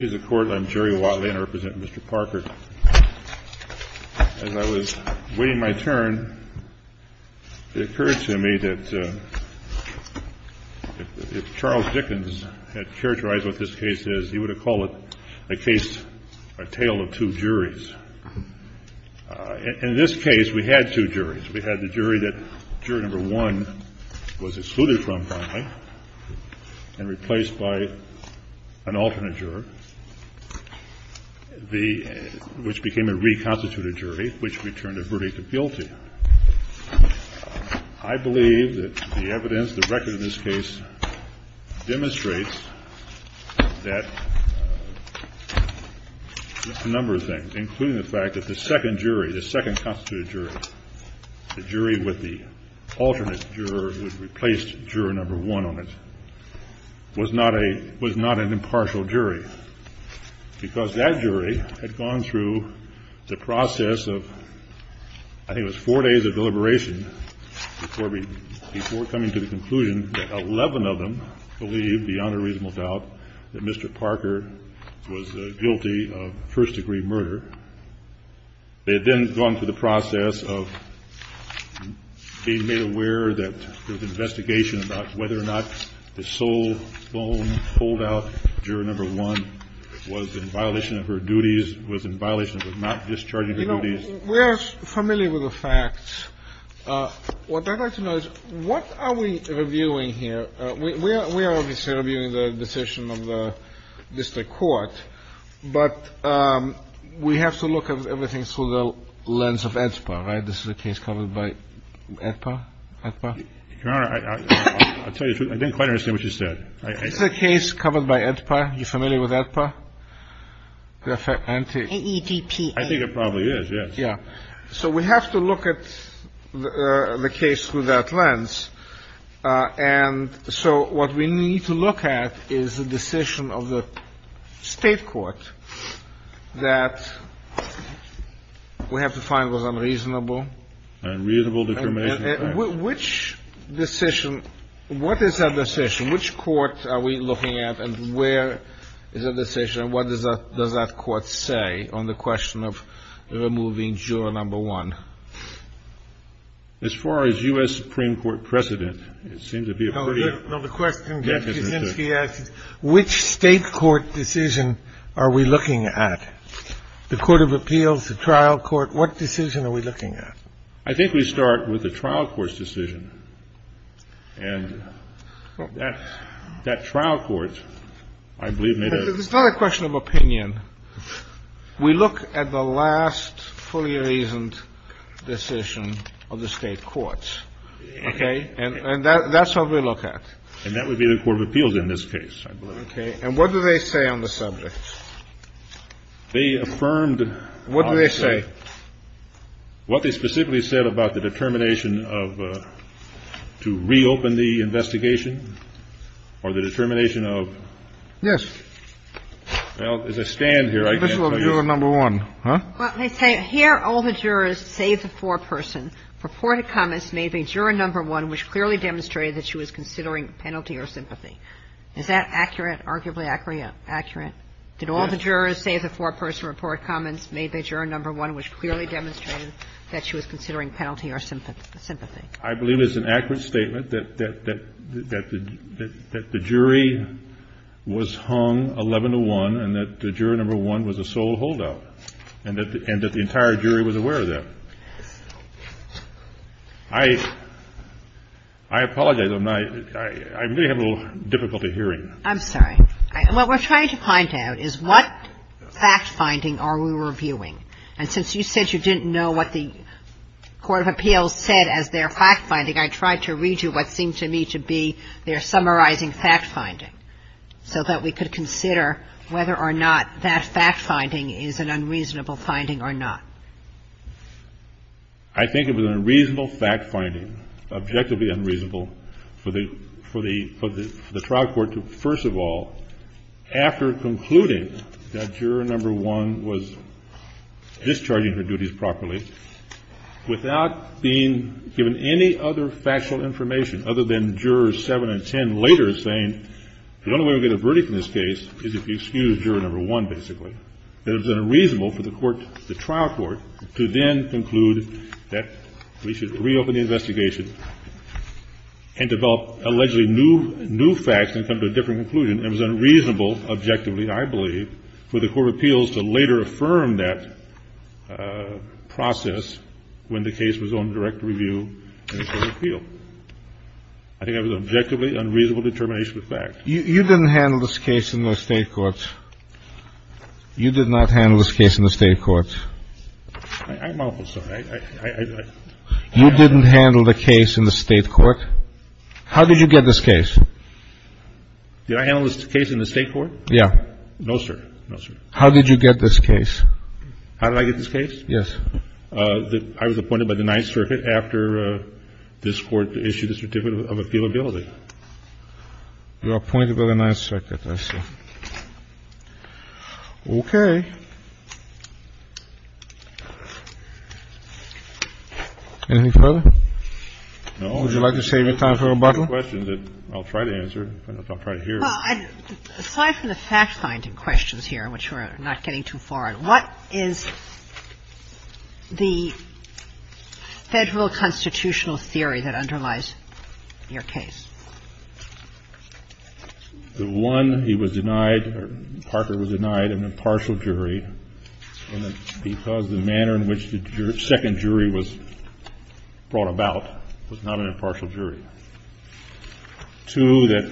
As I was waiting my turn, it occurred to me that if Charles Dickens had characterized what this case is, he would have called the case a tale of two juries. In this case, we had two juries. We had the jury that jury number one was excluded from, finally, and replaced by an alternate juror, which became a reconstituted jury, which returned a verdict of guilty. I believe that the evidence, the record of this case, demonstrates that a number of things, including the fact that the second jury, the second constituted was not an impartial jury, because that jury had gone through the process of, I think it was four days of deliberation before coming to the conclusion that 11 of them believed, beyond a reasonable doubt, that Mr. Parker was guilty of first-degree murder. They had then gone through the process of being made aware that there was investigation about whether or not the sole bone pulled out, juror number one, was in violation of her duties, was in violation of not discharging her duties. You know, we are familiar with the facts. What I'd like to know is what are we reviewing here? We are obviously reviewing the decision of the district court, but we have to look at everything through the lens of AEDPA, right? This is a case covered by AEDPA? AEDPA? Your Honor, I'll tell you the truth. I didn't quite understand what you said. This is a case covered by AEDPA. You familiar with AEDPA? AEPPA. I think it probably is, yes. Yeah. So we have to look at the case through that lens, and so what we need to look at is the decision of the State court that we have to find was unreasonable. Unreasonable determination of facts. Which decision – what is that decision? Which court are we looking at, and where is that decision, and what does that court say on the question of removing juror number one? As far as U.S. Supreme Court precedent, it seems to be a pretty – No, the question Judge Kuczynski asked is which State court decision are we looking at? The court of appeals, the trial court, what decision are we looking at? I think we start with the trial court's decision, and that trial court, I believe, made a – It's not a question of opinion. We look at the last fully reasoned decision of the State courts, okay? And that's what we look at. And that would be the court of appeals in this case, I believe. Okay. And what do they say on the subject? They affirmed – What do they say? What they specifically said about the determination of – to reopen the investigation or the determination of – Yes. Well, as I stand here, I can't tell you. This was juror number one. Let me say, here all the jurors save the foreperson. Reported comments made by juror number one, which clearly demonstrated that she was considering penalty or sympathy. Is that accurate? Arguably accurate? Yes. All the jurors save the foreperson. Reported comments made by juror number one, which clearly demonstrated that she was considering penalty or sympathy. I believe it's an accurate statement that the jury was hung 11-to-1 and that juror number one was a sole holdout, and that the entire jury was aware of that. I apologize. I really have a little difficulty hearing. I'm sorry. What we're trying to find out is what fact-finding are we reviewing? And since you said you didn't know what the court of appeals said as their fact-finding, I tried to read you what seemed to me to be their summarizing fact-finding so that we could consider whether or not that fact-finding is an unreasonable finding or not. I think it was a reasonable fact-finding, objectively unreasonable, for the trial court to, first of all, after concluding that juror number one was discharging her duties properly, without being given any other factual information other than jurors seven and ten later saying the only way we get a verdict in this case is if you excuse juror number one, basically. That it was unreasonable for the court, the trial court, to then conclude that we should reopen the investigation and develop allegedly new facts and come to a different conclusion. It was unreasonable, objectively, I believe, for the court of appeals to later affirm that process when the case was going to direct review in the court of appeals. I think that was an objectively unreasonable determination of fact. You didn't handle this case in the State courts. You did not handle this case in the State courts. I'm awfully sorry. You didn't handle the case in the State court. How did you get this case? Did I handle this case in the State court? Yeah. No, sir. No, sir. How did you get this case? How did I get this case? Yes. I was appointed by the Ninth Circuit after this Court issued the Certificate of Appealability. You were appointed by the Ninth Circuit, I see. Okay. Anything further? No. Would you like to save your time for rebuttal? I have a question that I'll try to answer. I'll try to hear it. Well, aside from the fact-finding questions here, which we're not getting too far in, what is the Federal constitutional theory that underlies your case? The one, he was denied, or Parker was denied an impartial jury because the manner in which the second jury was brought about was not an impartial jury. Two, that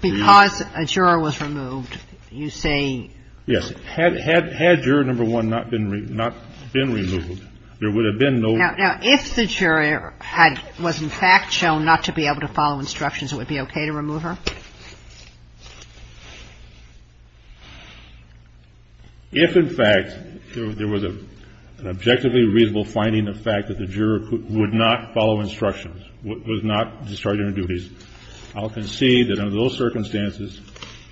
the jury was removed. Because a juror was removed, you say? Yes. Had juror number one not been removed, there would have been no... If in fact there was an objectively reasonable finding of fact that the juror would not follow instructions, would not discharge her duties, I'll concede that under those circumstances,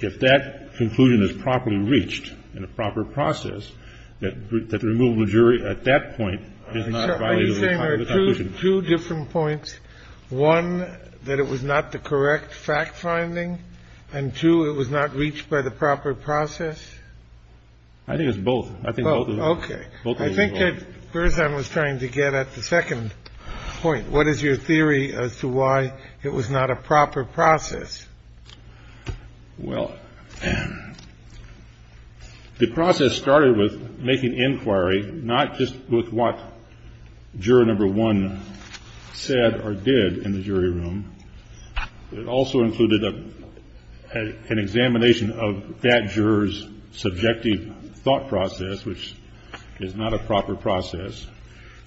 if that conclusion is properly reached in a proper process, that the removal of the jury at that point is not valid. You're saying there are two different points, one, that it was not the correct fact-finding, and two, it was not reached by the proper process? I think it's both. Okay. I think that Berzan was trying to get at the second point. What is your theory as to why it was not a proper process? Well, the process started with making inquiry, not just with what juror number one said or did in the jury room. It also included an examination of that juror's subjective thought process, which is not a proper process.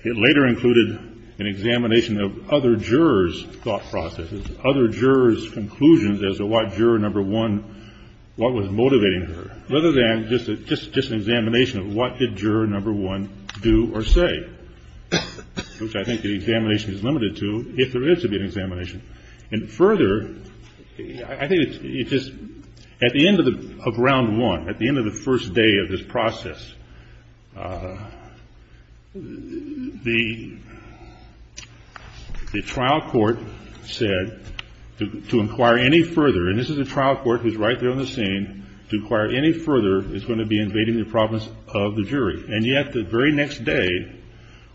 It later included an examination of other jurors' thought processes, other jurors' conclusions as to what juror number one, what was motivating her, rather than just an examination of what did juror number one do or say, which I think the examination is limited to if there is to be an examination. And further, I think it's just at the end of round one, at the end of the first day of this process, the trial court said to inquire any further, and this is a trial court who's right there on the scene, to inquire any further is going to be invading the province of the jury. And yet the very next day,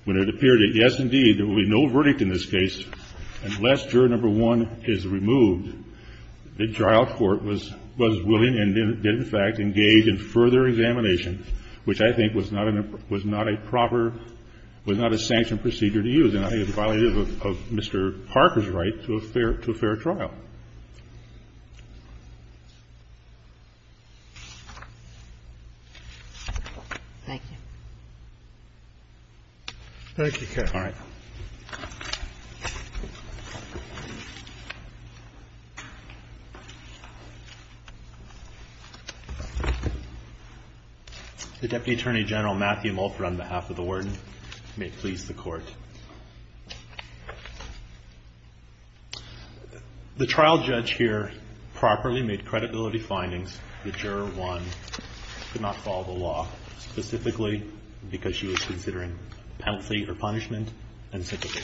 when it appeared that, yes, indeed, there will be no verdict in this case unless juror number one is removed, the trial court was willing and did, in fact, engage in further examination, which I think was not a proper, was not a sanctioned procedure to use. And I think it's a violation of Mr. Parker's right to a fair trial. Thank you. Thank you, Kaye. All right. The Deputy Attorney General, Matthew Mulford, on behalf of the Warden, may it please the Court. The trial judge here properly made credibility findings. The juror one could not follow the law, specifically because she was considering penalty or punishment unsuitable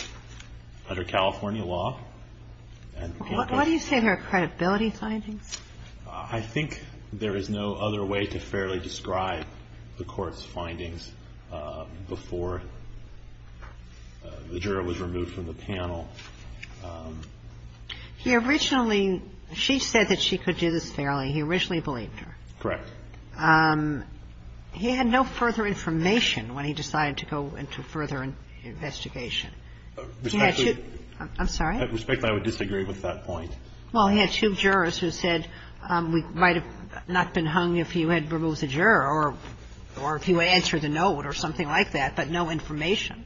under California law. What do you say are her credibility findings? I think there is no other way to fairly describe the Court's findings before the jury was removed from the panel. He originally – she said that she could do this fairly. He originally believed her. Correct. He had no further information when he decided to go into further investigation. Respectfully, I'm sorry? Respectfully, I would disagree with that point. Well, he had two jurors who said we might have not been hung if you had removed the juror or if you answered the note or something like that, but no information.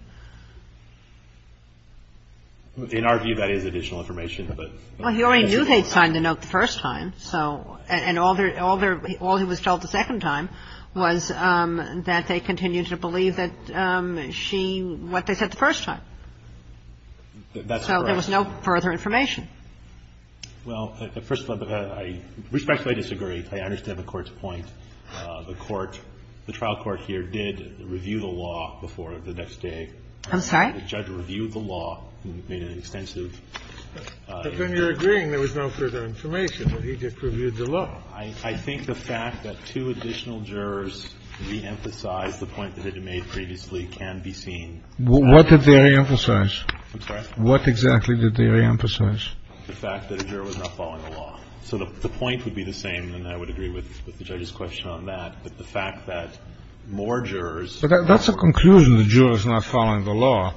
In our view, that is additional information. Well, he already knew they had signed the note the first time, so – and all he was told the second time was that they continued to believe that she – what they said the first time. That's correct. So there was no further information. Well, first of all, I respectfully disagree. I understand the Court's point. The Court – the trial court here did review the law before the next day. I'm sorry? The judge reviewed the law and made an extensive – But then you're agreeing there was no further information. He just reviewed the law. I think the fact that two additional jurors reemphasized the point that had been made previously can be seen. What did they reemphasize? I'm sorry? What exactly did they reemphasize? The fact that a juror was not following the law. So the point would be the same, and I would agree with the judge's question on that, but the fact that more jurors – But that's a conclusion. The juror's not following the law.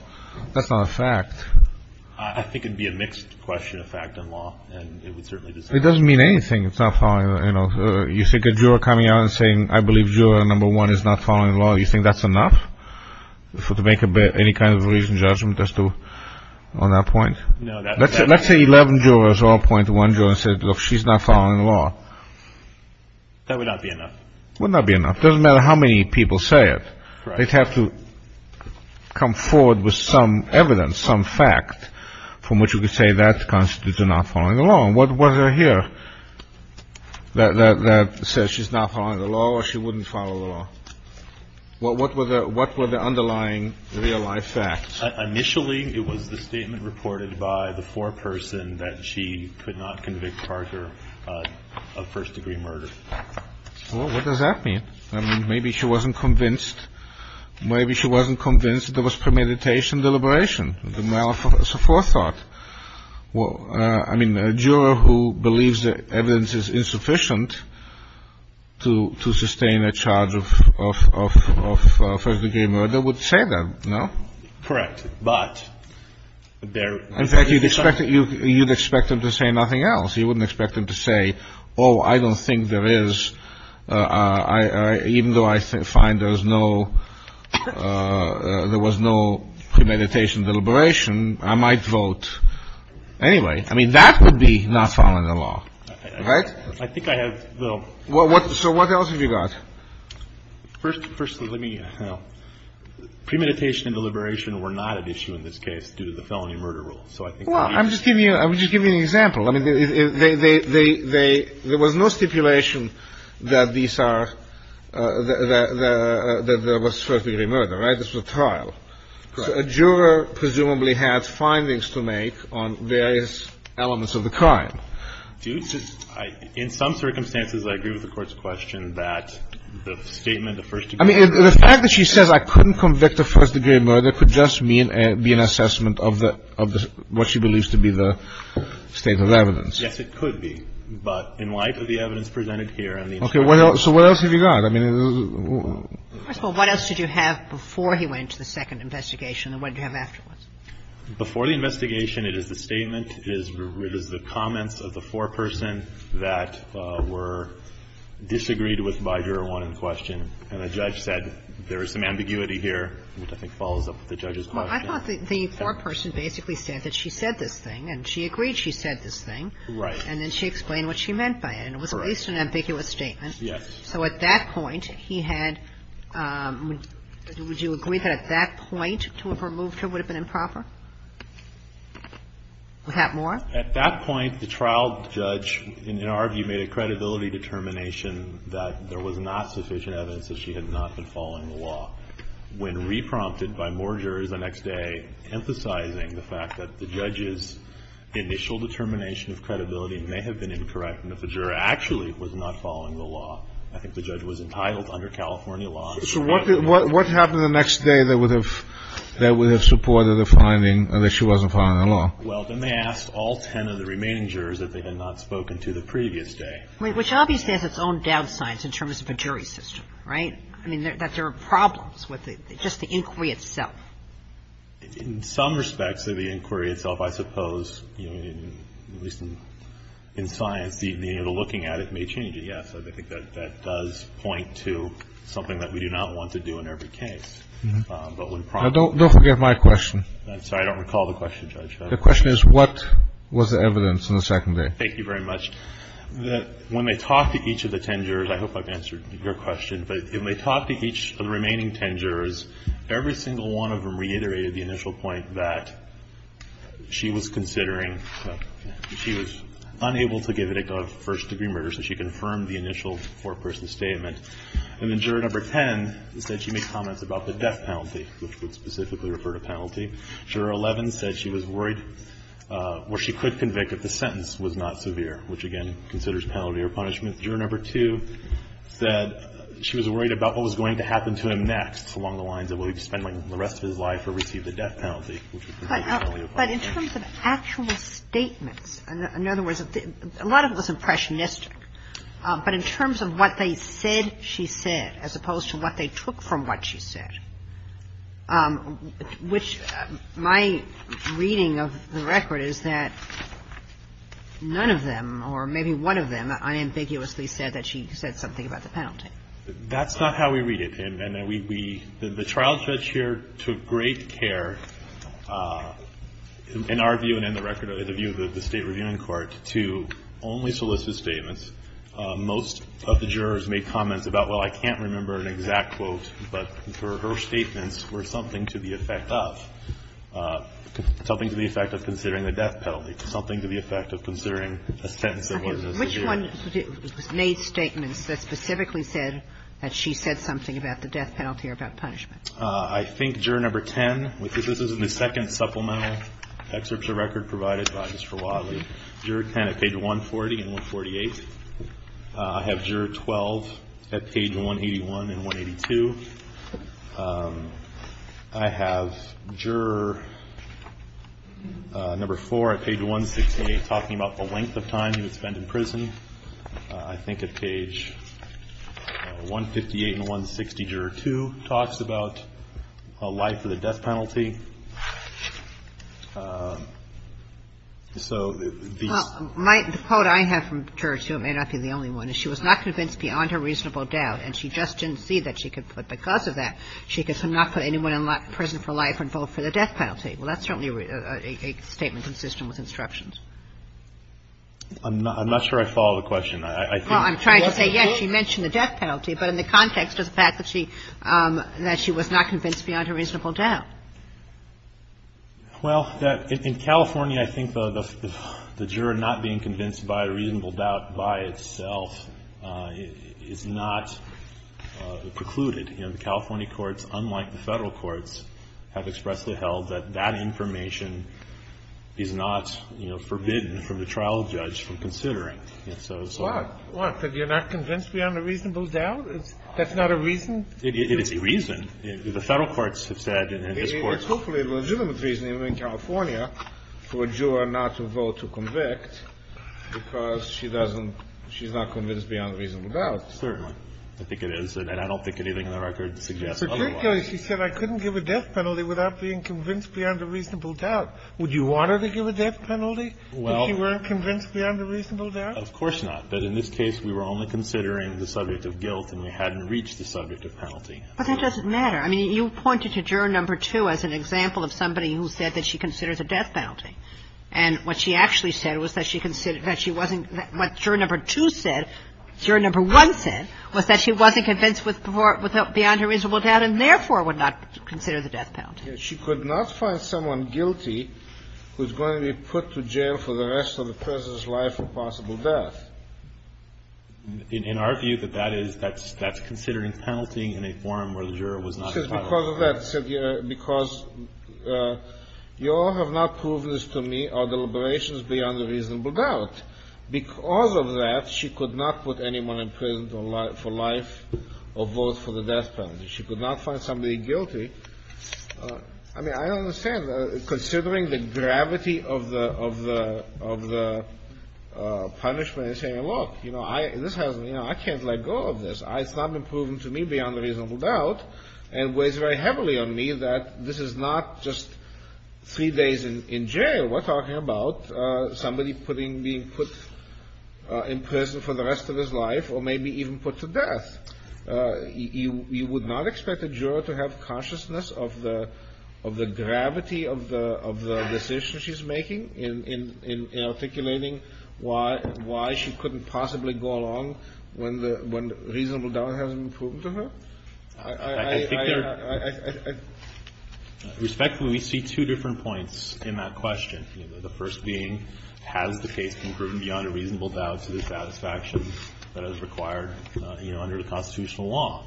That's not a fact. I think it would be a mixed question of fact and law, and it would certainly – It doesn't mean anything, it's not following – you know, you think a juror coming out and saying, I believe juror number one is not following the law, you think that's enough to make any kind of reasoned judgment as to – on that point? Let's say 11 jurors all point to one juror and say, look, she's not following the law. That would not be enough. Would not be enough. It doesn't matter how many people say it. Right. They'd have to come forward with some evidence, some fact, from which we could say that constitutes a not following the law. And what was it here that says she's not following the law or she wouldn't follow the law? What were the underlying real-life facts? Initially, it was the statement reported by the foreperson that she could not convict Parker of first-degree murder. Well, what does that mean? I mean, maybe she wasn't convinced – maybe she wasn't convinced there was premeditation deliberation, the malice of forethought. Well, I mean, a juror who believes that evidence is insufficient to sustain a charge of first-degree murder would say that, no? Correct. But there – In fact, you'd expect him to say nothing else. You wouldn't expect him to say, oh, I don't think there is – even though I find there was no premeditation deliberation, I might vote anyway. I mean, that would be not following the law. Right? I think I have – So what else have you got? First, let me – premeditation and deliberation were not at issue in this case due to the felony murder rule. So I think – Well, I'm just giving you – I'm just giving you an example. I mean, they – there was no stipulation that these are – that there was first-degree murder, right? This was a trial. Correct. So a juror presumably had findings to make on various elements of the crime. In some circumstances, I agree with the Court's question that the statement of first-degree murder – I mean, the fact that she says I couldn't convict of first-degree murder could just mean – be an assessment of the – of what she believes to be the state of evidence. Yes, it could be. But in light of the evidence presented here and the – Okay. So what else have you got? I mean – First of all, what else did you have before he went to the second investigation and what did you have afterwards? Before the investigation, it is the statement, it is the comments of the foreperson that were disagreed with by Juror 1 in question, and the judge said there is some ambiguity here, which I think follows up with the judge's question. Well, I thought the foreperson basically said that she said this thing and she agreed she said this thing. Right. And then she explained what she meant by it. Right. And it was at least an ambiguous statement. Yes. So at that point, he had – would you agree that at that point to have removed her would have been improper? Do we have more? At that point, the trial judge, in our view, made a credibility determination that there was not sufficient evidence that she had not been following the law. When reprompted by more jurors the next day, emphasizing the fact that the judge's initial determination of credibility may have been incorrect, and if the juror actually was not following the law, I think the judge was entitled under California laws to have removed her. What happened the next day that would have supported the finding that she wasn't following the law? Well, then they asked all ten of the remaining jurors if they had not spoken to the previous day. Which obviously has its own downsides in terms of a jury system. Right? I mean, that there are problems with it, just the inquiry itself. In some respects of the inquiry itself, I suppose, at least in science, being able to look at it may change it, yes. I think that that does point to something that we do not want to do in every case. But when prompted by the law. Don't forget my question. I'm sorry. I don't recall the question, Judge. The question is, what was the evidence on the second day? Thank you very much. When they talked to each of the ten jurors, I hope I've answered your question, but when they talked to each of the remaining ten jurors, every single one of them reiterated the initial point that she was considering, she was unable to give it a first degree murder, so she confirmed the initial four-person statement. And then Juror No. 10 said she made comments about the death penalty, which would specifically refer to penalty. Juror 11 said she was worried where she could convict if the sentence was not severe, which, again, considers penalty or punishment. Juror No. 2 said she was worried about what was going to happen to him next along the lines of will he be spending the rest of his life or receive the death penalty, which is presumably a punishment. But in terms of actual statements, in other words, a lot of it was impressionistic, but in terms of what they said she said as opposed to what they took from what she said, which my reading of the record is that none of them or maybe one of them unambiguously said that she said something about the penalty. That's not how we read it. And then we, the trial judge here took great care, in our view and in the record of the view of the State Reviewing Court, to only solicit statements. Most of the jurors made comments about, well, I can't remember an exact quote, but her statements were something to the effect of, something to the effect of considering the death penalty, something to the effect of considering a sentence that wasn't severe. Sotomayor, which one made statements that specifically said that she said something about the death penalty or about punishment? I think juror number 10, because this is the second supplemental excerpt of the record provided by Mr. Wadley. Juror 10 at page 140 and 148. I have juror 12 at page 181 and 182. I have juror number 4 at page 168 talking about the length of time he would spend in prison. I think at page 158 and 160, juror 2 talks about a life or the death penalty. So these are the two. Well, the quote I have from juror 2, it may not be the only one, is she was not convinced beyond her reasonable doubt, and she just didn't see that she could put, because of that, she could not put anyone in prison for life and vote for the death penalty. Well, that's certainly a statement consistent with instructions. I'm not sure I follow the question. I think what the court said. Well, I'm trying to say, yes, she mentioned the death penalty, but in the context of the fact that she was not convinced beyond her reasonable doubt. Well, in California, I think the juror not being convinced by a reasonable doubt by itself is not precluded. You know, the California courts, unlike the Federal courts, have expressly held that that information is not, you know, forbidden from the trial judge from considering. So it's a lot. What, that you're not convinced beyond a reasonable doubt? That's not a reason? It is a reason. The Federal courts have said, and this Court. It's hopefully a legitimate reason, even in California, for a juror not to vote to convict, because she doesn't, she's not convinced beyond a reasonable doubt. Certainly. I think it is, and I don't think anything in the record suggests otherwise. Well, I think it is. She said I couldn't give a death penalty without being convinced beyond a reasonable doubt. Would you want her to give a death penalty if she weren't convinced beyond a reasonable doubt? Of course not. But in this case, we were only considering the subject of guilt and we hadn't reached the subject of penalty. But that doesn't matter. I mean, you pointed to juror number two as an example of somebody who said that she considers a death penalty. And what she actually said was that she considered, that she wasn't, what juror number two said, juror number one said, was that she wasn't convinced with, beyond a reasonable doubt, and therefore would not consider the death penalty. She could not find someone guilty who's going to be put to jail for the rest of the President's life or possible death. In our view, that that is, that's considering penalty in a forum where the juror was not entitled to. Because of that, because you all have not proved this to me, are deliberations beyond a reasonable doubt. Because of that, she could not put anyone in prison for life or vote for the death penalty. She could not find somebody guilty. I mean, I don't understand. Considering the gravity of the, of the, of the punishment and saying, look, you know, I, this has, you know, I can't let go of this. It's not been proven to me beyond a reasonable doubt and weighs very heavily on me that this is not just three days in jail. We're talking about somebody putting, being put in prison for the rest of his life or maybe even put to death. You, you would not expect a juror to have consciousness of the, of the gravity of the, of the decision she's making in, in, in articulating why, why she couldn't possibly go along when the, when reasonable doubt hasn't been proven to her? I, I, I, I, I. Respectfully, we see two different points in that question. You know, the first being, has the case been proven beyond a reasonable doubt to the constitutional law?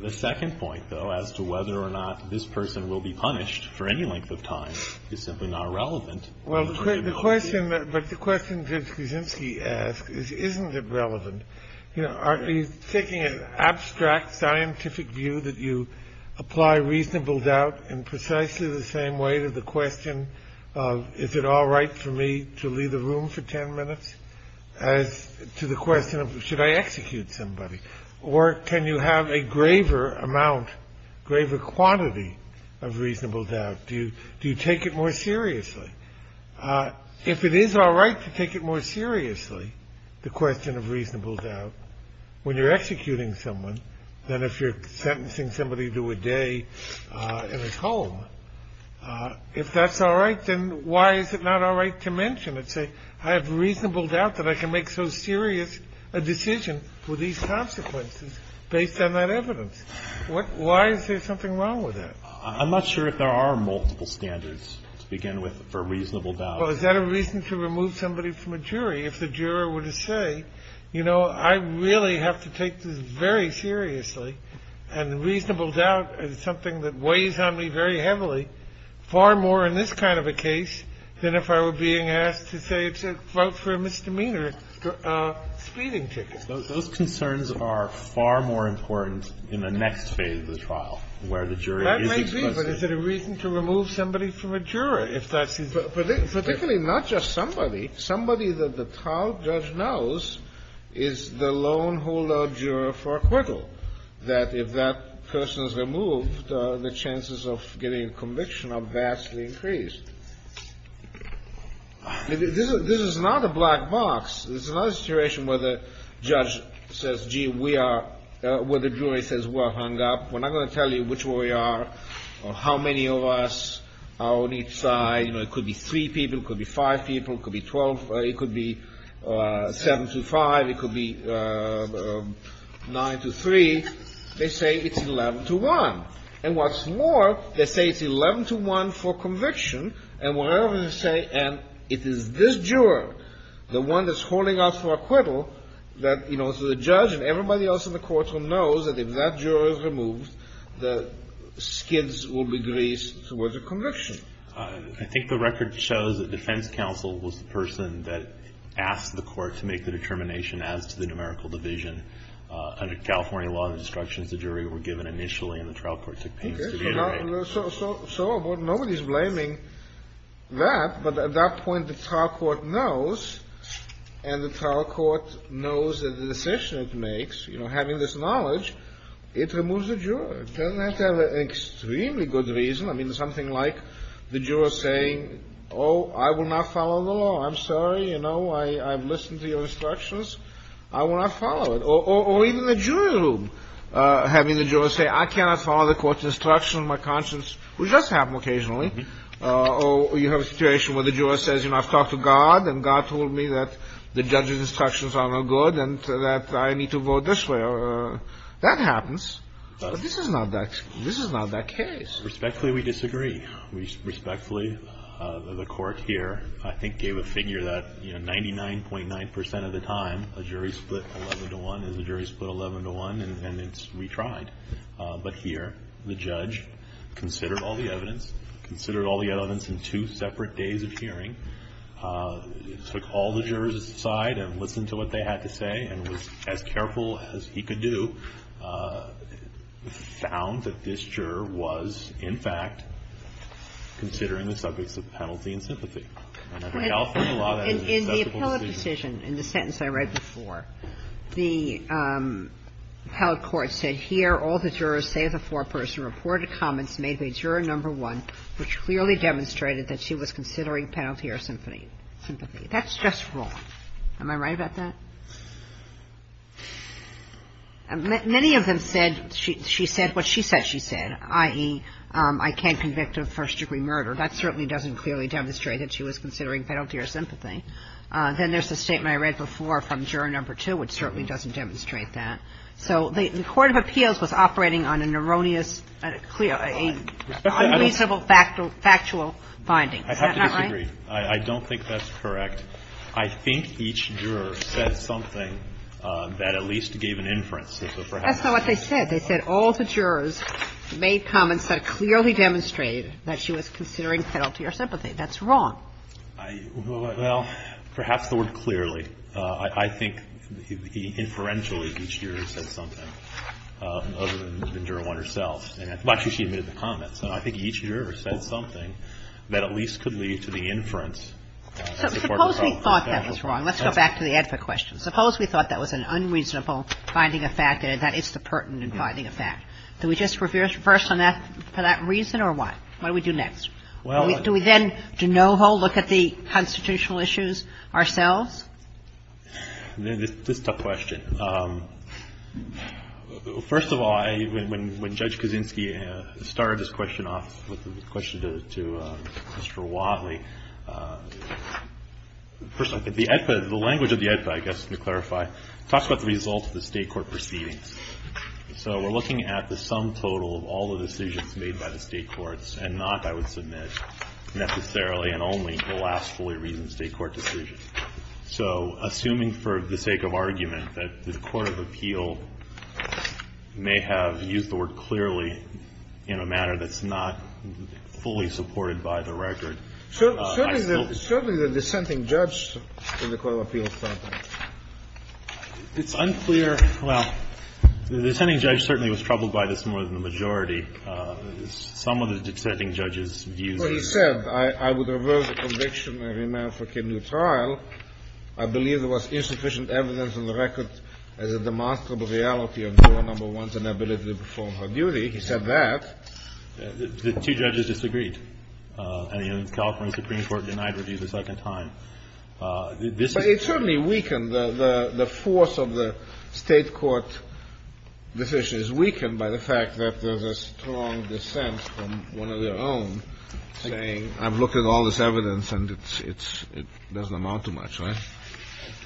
The second point, though, as to whether or not this person will be punished for any length of time is simply not relevant. Well, the question that, but the question that Kuczynski asked is, isn't it relevant? You know, are you taking an abstract scientific view that you apply reasonable doubt in precisely the same way to the question of is it all right for me to leave the room for 10 minutes as to the question of should I execute somebody? Or can you have a graver amount, graver quantity of reasonable doubt? Do you, do you take it more seriously? If it is all right to take it more seriously, the question of reasonable doubt, when you're executing someone, than if you're sentencing somebody to a day in his home, if that's all right, then why is it not all right to mention it? I have reasonable doubt that I can make so serious a decision for these consequences based on that evidence. Why is there something wrong with that? I'm not sure if there are multiple standards to begin with for reasonable doubt. Well, is that a reason to remove somebody from a jury if the juror were to say, you know, I really have to take this very seriously, and reasonable doubt is something that weighs on me very heavily, far more in this kind of a case than if I were being asked to say to vote for a misdemeanor speeding ticket. Those concerns are far more important in the next phase of the trial, where the jury is exposed to the jury. That may be, but is it a reason to remove somebody from a juror if that's his decision? Particularly not just somebody. Somebody that the trial judge knows is the lone holdout juror for acquittal, that if that person's removed, the chances of getting a conviction are vastly increased. This is not a black box. This is not a situation where the judge says, gee, we are, where the jury says we're hung up. We're not going to tell you which way we are or how many of us are on each side. You know, it could be three people. It could be five people. It could be 12. It could be 7 to 5. It could be 9 to 3. They say it's 11 to 1, and what's more, they say it's 11 to 1 for conviction, and whatever they say, and it is this juror, the one that's holding us for acquittal, that, you know, so the judge and everybody else in the courtroom knows that if that juror is removed, the skids will be greased towards a conviction. I think the record shows that defense counsel was the person that asked the court to make the determination as to the numerical division. Under California law, the instructions to jury were given initially, and the trial court took pains to reiterate. So nobody's blaming that, but at that point, the trial court knows, and the trial court knows that the decision it makes, you know, having this knowledge, it removes the juror. It doesn't have to have an extremely good reason. I mean, something like the juror saying, oh, I will not follow the law. I'm sorry. You know, I've listened to your instructions. I will not follow it. Or even the jury room, having the juror say, I cannot follow the court's instructions in my conscience, which does happen occasionally. Or you have a situation where the juror says, you know, I've talked to God, and God told me that the judge's instructions are no good and that I need to vote this way. That happens, but this is not that case. Respectfully, we disagree. Respectfully, the court here, I think, gave a figure that, you know, 99.9 percent of the time, a jury split 11-to-1 is a jury split 11-to-1, and it's retried. But here, the judge considered all the evidence, considered all the evidence in two separate days of hearing, took all the jurors aside and listened to what they had to say and was as careful as he could do, found that this juror was, in fact, considering the subjects of penalty and sympathy. And I think Alfred and Lauda had an accessible decision. In the sentence I read before, the appellate court said, here, all the jurors, save the foreperson, reported comments made by juror number one, which clearly demonstrated that she was considering penalty or sympathy. That's just wrong. Am I right about that? Many of them said she said what she said she said, i.e., I can't convict of first-degree murder. That certainly doesn't clearly demonstrate that she was considering penalty or sympathy. Then there's the statement I read before from juror number two, which certainly doesn't demonstrate that. So the court of appeals was operating on an erroneous, a clear, an unreasonable factual finding. Is that not right? I have to disagree. I don't think that's correct. I think each juror said something that at least gave an inference. That's not what they said. They said all the jurors made comments that clearly demonstrated that she was considering penalty or sympathy. That's wrong. Well, perhaps the word clearly. I think inferentially each juror said something other than juror one herself. Actually, she admitted the comments. So I think each juror said something that at least could lead to the inference as a part of the problem. Suppose we thought that was wrong. Let's go back to the advert question. Suppose we thought that was an unreasonable finding of fact and that it's the pertinent finding of fact. Do we just reverse on that for that reason or what? What do we do next? Do we then de novo look at the constitutional issues ourselves? This is a tough question. First of all, when Judge Kaczynski started this question off with the question to Mr. Watley, first of all, the language of the AEDPA, I guess, to clarify, talks about the results of the State court proceedings. So we're looking at the sum total of all the decisions made by the State courts and not, I would submit, necessarily and only the last fully reasoned State court decision. So assuming for the sake of argument that the court of appeal may have used the word clearly in a matter that's not fully supported by the record, I still think that I still think that the Court of Appeal. It's unclear. Well, the dissenting judge certainly was troubled by this more than the majority. Some of the dissenting judges' views. Well, he said, I would reverse the conviction and remand for kidney trial. I believe there was insufficient evidence in the record as a demonstrable reality of Juror No. 1's inability to perform her duty. He said that. The two judges disagreed. And the California Supreme Court denied review the second time. But it certainly weakened the force of the State court decisions, weakened by the strong dissent from one of their own, saying. I've looked at all this evidence and it doesn't amount to much, right?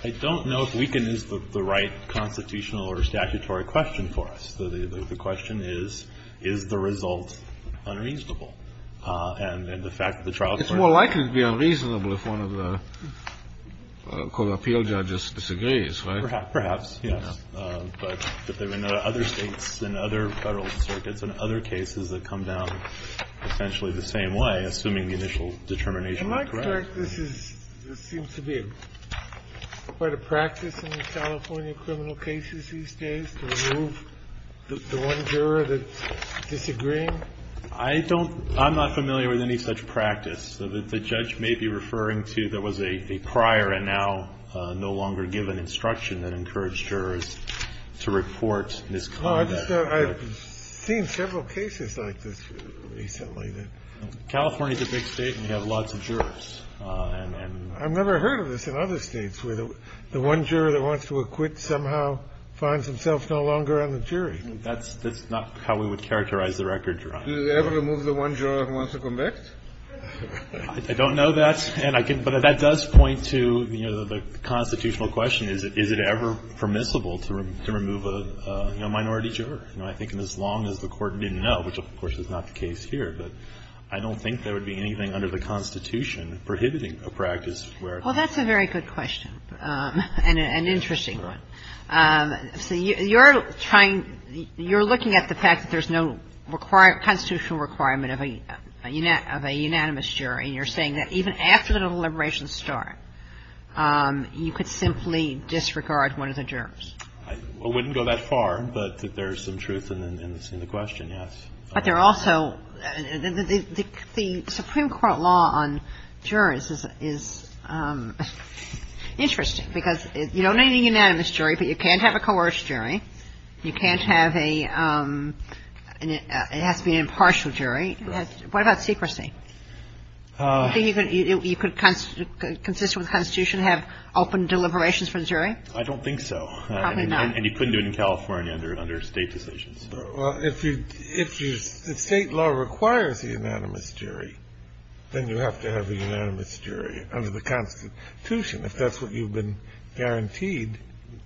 I don't know if weakened is the right constitutional or statutory question for us. The question is, is the result unreasonable? And the fact that the trial court. It's more likely to be unreasonable if one of the Court of Appeal judges disagrees, right? Perhaps, yes. But there have been other states and other Federal circuits and other cases that come down essentially the same way, assuming the initial determination was correct. Am I correct? This seems to be quite a practice in the California criminal cases these days, to remove the one juror that's disagreeing? I don't. I'm not familiar with any such practice. The judge may be referring to there was a prior and now no longer given instruction that encouraged jurors to report misconduct. I've seen several cases like this recently. California is a big state and you have lots of jurors. I've never heard of this in other states where the one juror that wants to acquit somehow finds himself no longer on the jury. That's not how we would characterize the record, Your Honor. Do they ever remove the one juror who wants to conduct? I don't know that. But that does point to, you know, the constitutional question. Is it ever permissible to remove a minority juror? You know, I think as long as the Court didn't know, which of course is not the case here, but I don't think there would be anything under the Constitution prohibiting a practice where. Well, that's a very good question and an interesting one. So you're trying to – you're looking at the fact that there's no constitutional requirement of a unanimous jury. You're saying that even after the deliberations start, you could simply disregard one of the jurors. I wouldn't go that far, but there's some truth in the question, yes. But there also – the Supreme Court law on jurors is interesting because you don't need a unanimous jury, but you can't have a coerced jury. You can't have a – it has to be an impartial jury. Yes. What about secrecy? Do you think you could – you could – consistent with the Constitution, have open deliberations from jury? I don't think so. Probably not. And you couldn't do it in California under State decisions. Well, if you – if State law requires a unanimous jury, then you have to have a unanimous jury under the Constitution, if that's what you've been guaranteed.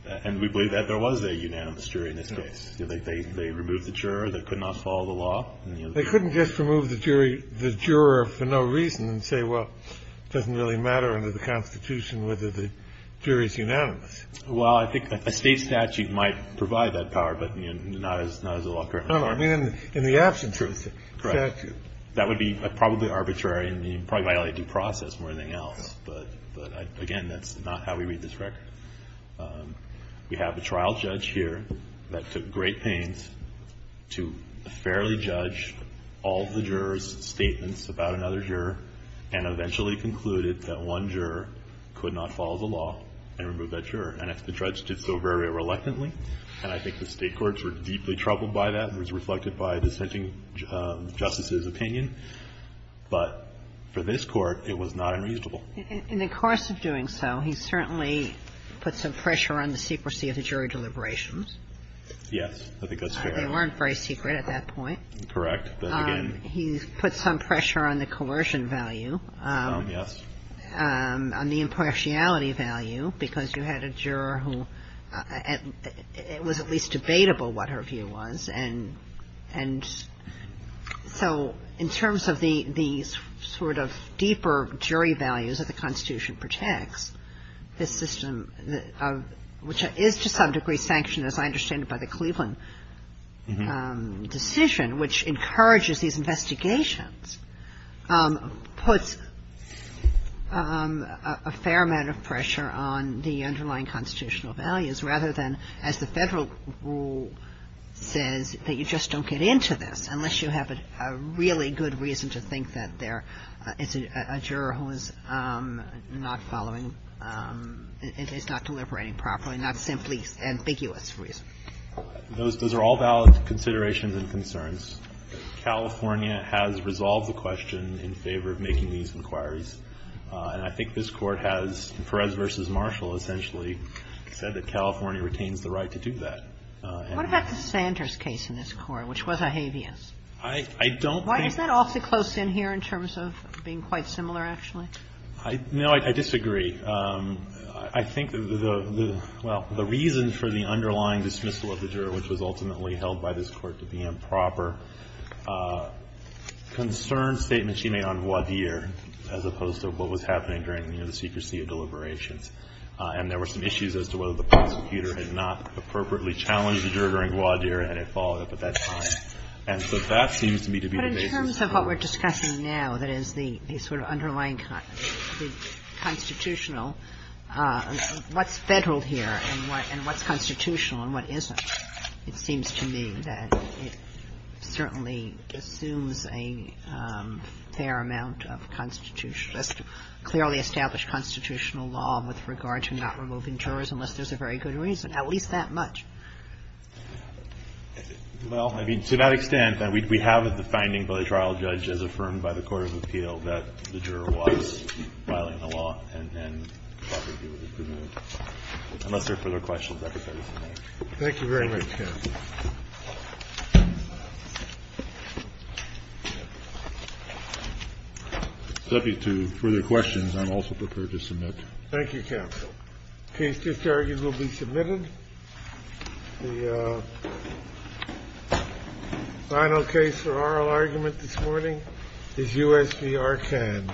And we believe that there was a unanimous jury in this case. They removed the juror that could not follow the law. They couldn't just remove the jury – the juror for no reason and say, well, it doesn't really matter under the Constitution whether the jury's unanimous. Well, I think a State statute might provide that power, but, you know, not as – not as the law currently requires. No, no. I mean, in the absent truth statute. Correct. That would be probably arbitrary and you'd probably violate due process more than anything else. But, again, that's not how we read this record. We have a trial judge here that took great pains to fairly judge all of the jurors' statements about another juror and eventually concluded that one juror could not follow the law and remove that juror. And the judge did so very reluctantly. And I think the State courts were deeply troubled by that. It was reflected by dissenting justices' opinion. But for this Court, it was not unreasonable. In the course of doing so, he certainly put some pressure on the secrecy of the jury deliberations. Yes. I think that's fair. They weren't very secret at that point. Correct. But, again. He put some pressure on the coercion value. Yes. On the impartiality value, because you had a juror who – it was at least debatable what her view was. And so in terms of the sort of deeper jury values that the Constitution protects, this system, which is to some degree sanctioned, as I understand it, by the Cleveland decision, which encourages these investigations, puts a fair amount of pressure on the underlying constitutional values, rather than, as the Federal rule says, that you just don't get into this unless you have a really good reason to think that there is a juror who is not following – is not deliberating properly, not simply ambiguous reason. Those are all valid considerations and concerns. California has resolved the question in favor of making these inquiries. And I think this Court has, in Perez v. Marshall, essentially said that California retains the right to do that. What about the Sanders case in this Court, which was a habeas? I don't think – Why is that awfully close in here in terms of being quite similar, actually? No, I disagree. I think the – well, the reason for the underlying dismissal of the juror, which was ultimately held by this Court to be improper, concerned statements she made on what was happening during the secrecy of deliberations. And there were some issues as to whether the prosecutor had not appropriately challenged the juror in Gwadir, and it followed up at that time. And so that seems to me to be the basis. But in terms of what we're discussing now, that is, the sort of underlying constitutional – what's Federal here and what's constitutional and what isn't, it seems to me that it certainly assumes a fair amount of constitutional law with regard to not removing jurors, unless there's a very good reason, at least that much. Well, I mean, to that extent, we have the finding by the trial judge as affirmed by the Court of Appeal that the juror was violating the law and improperly was removed. Unless there are further questions, I think that is enough. Thank you very much, counsel. With respect to further questions, I'm also prepared to submit. Thank you, counsel. The case just argued will be submitted. The final case for oral argument this morning is U.S. v. ARCAD.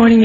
Thank you.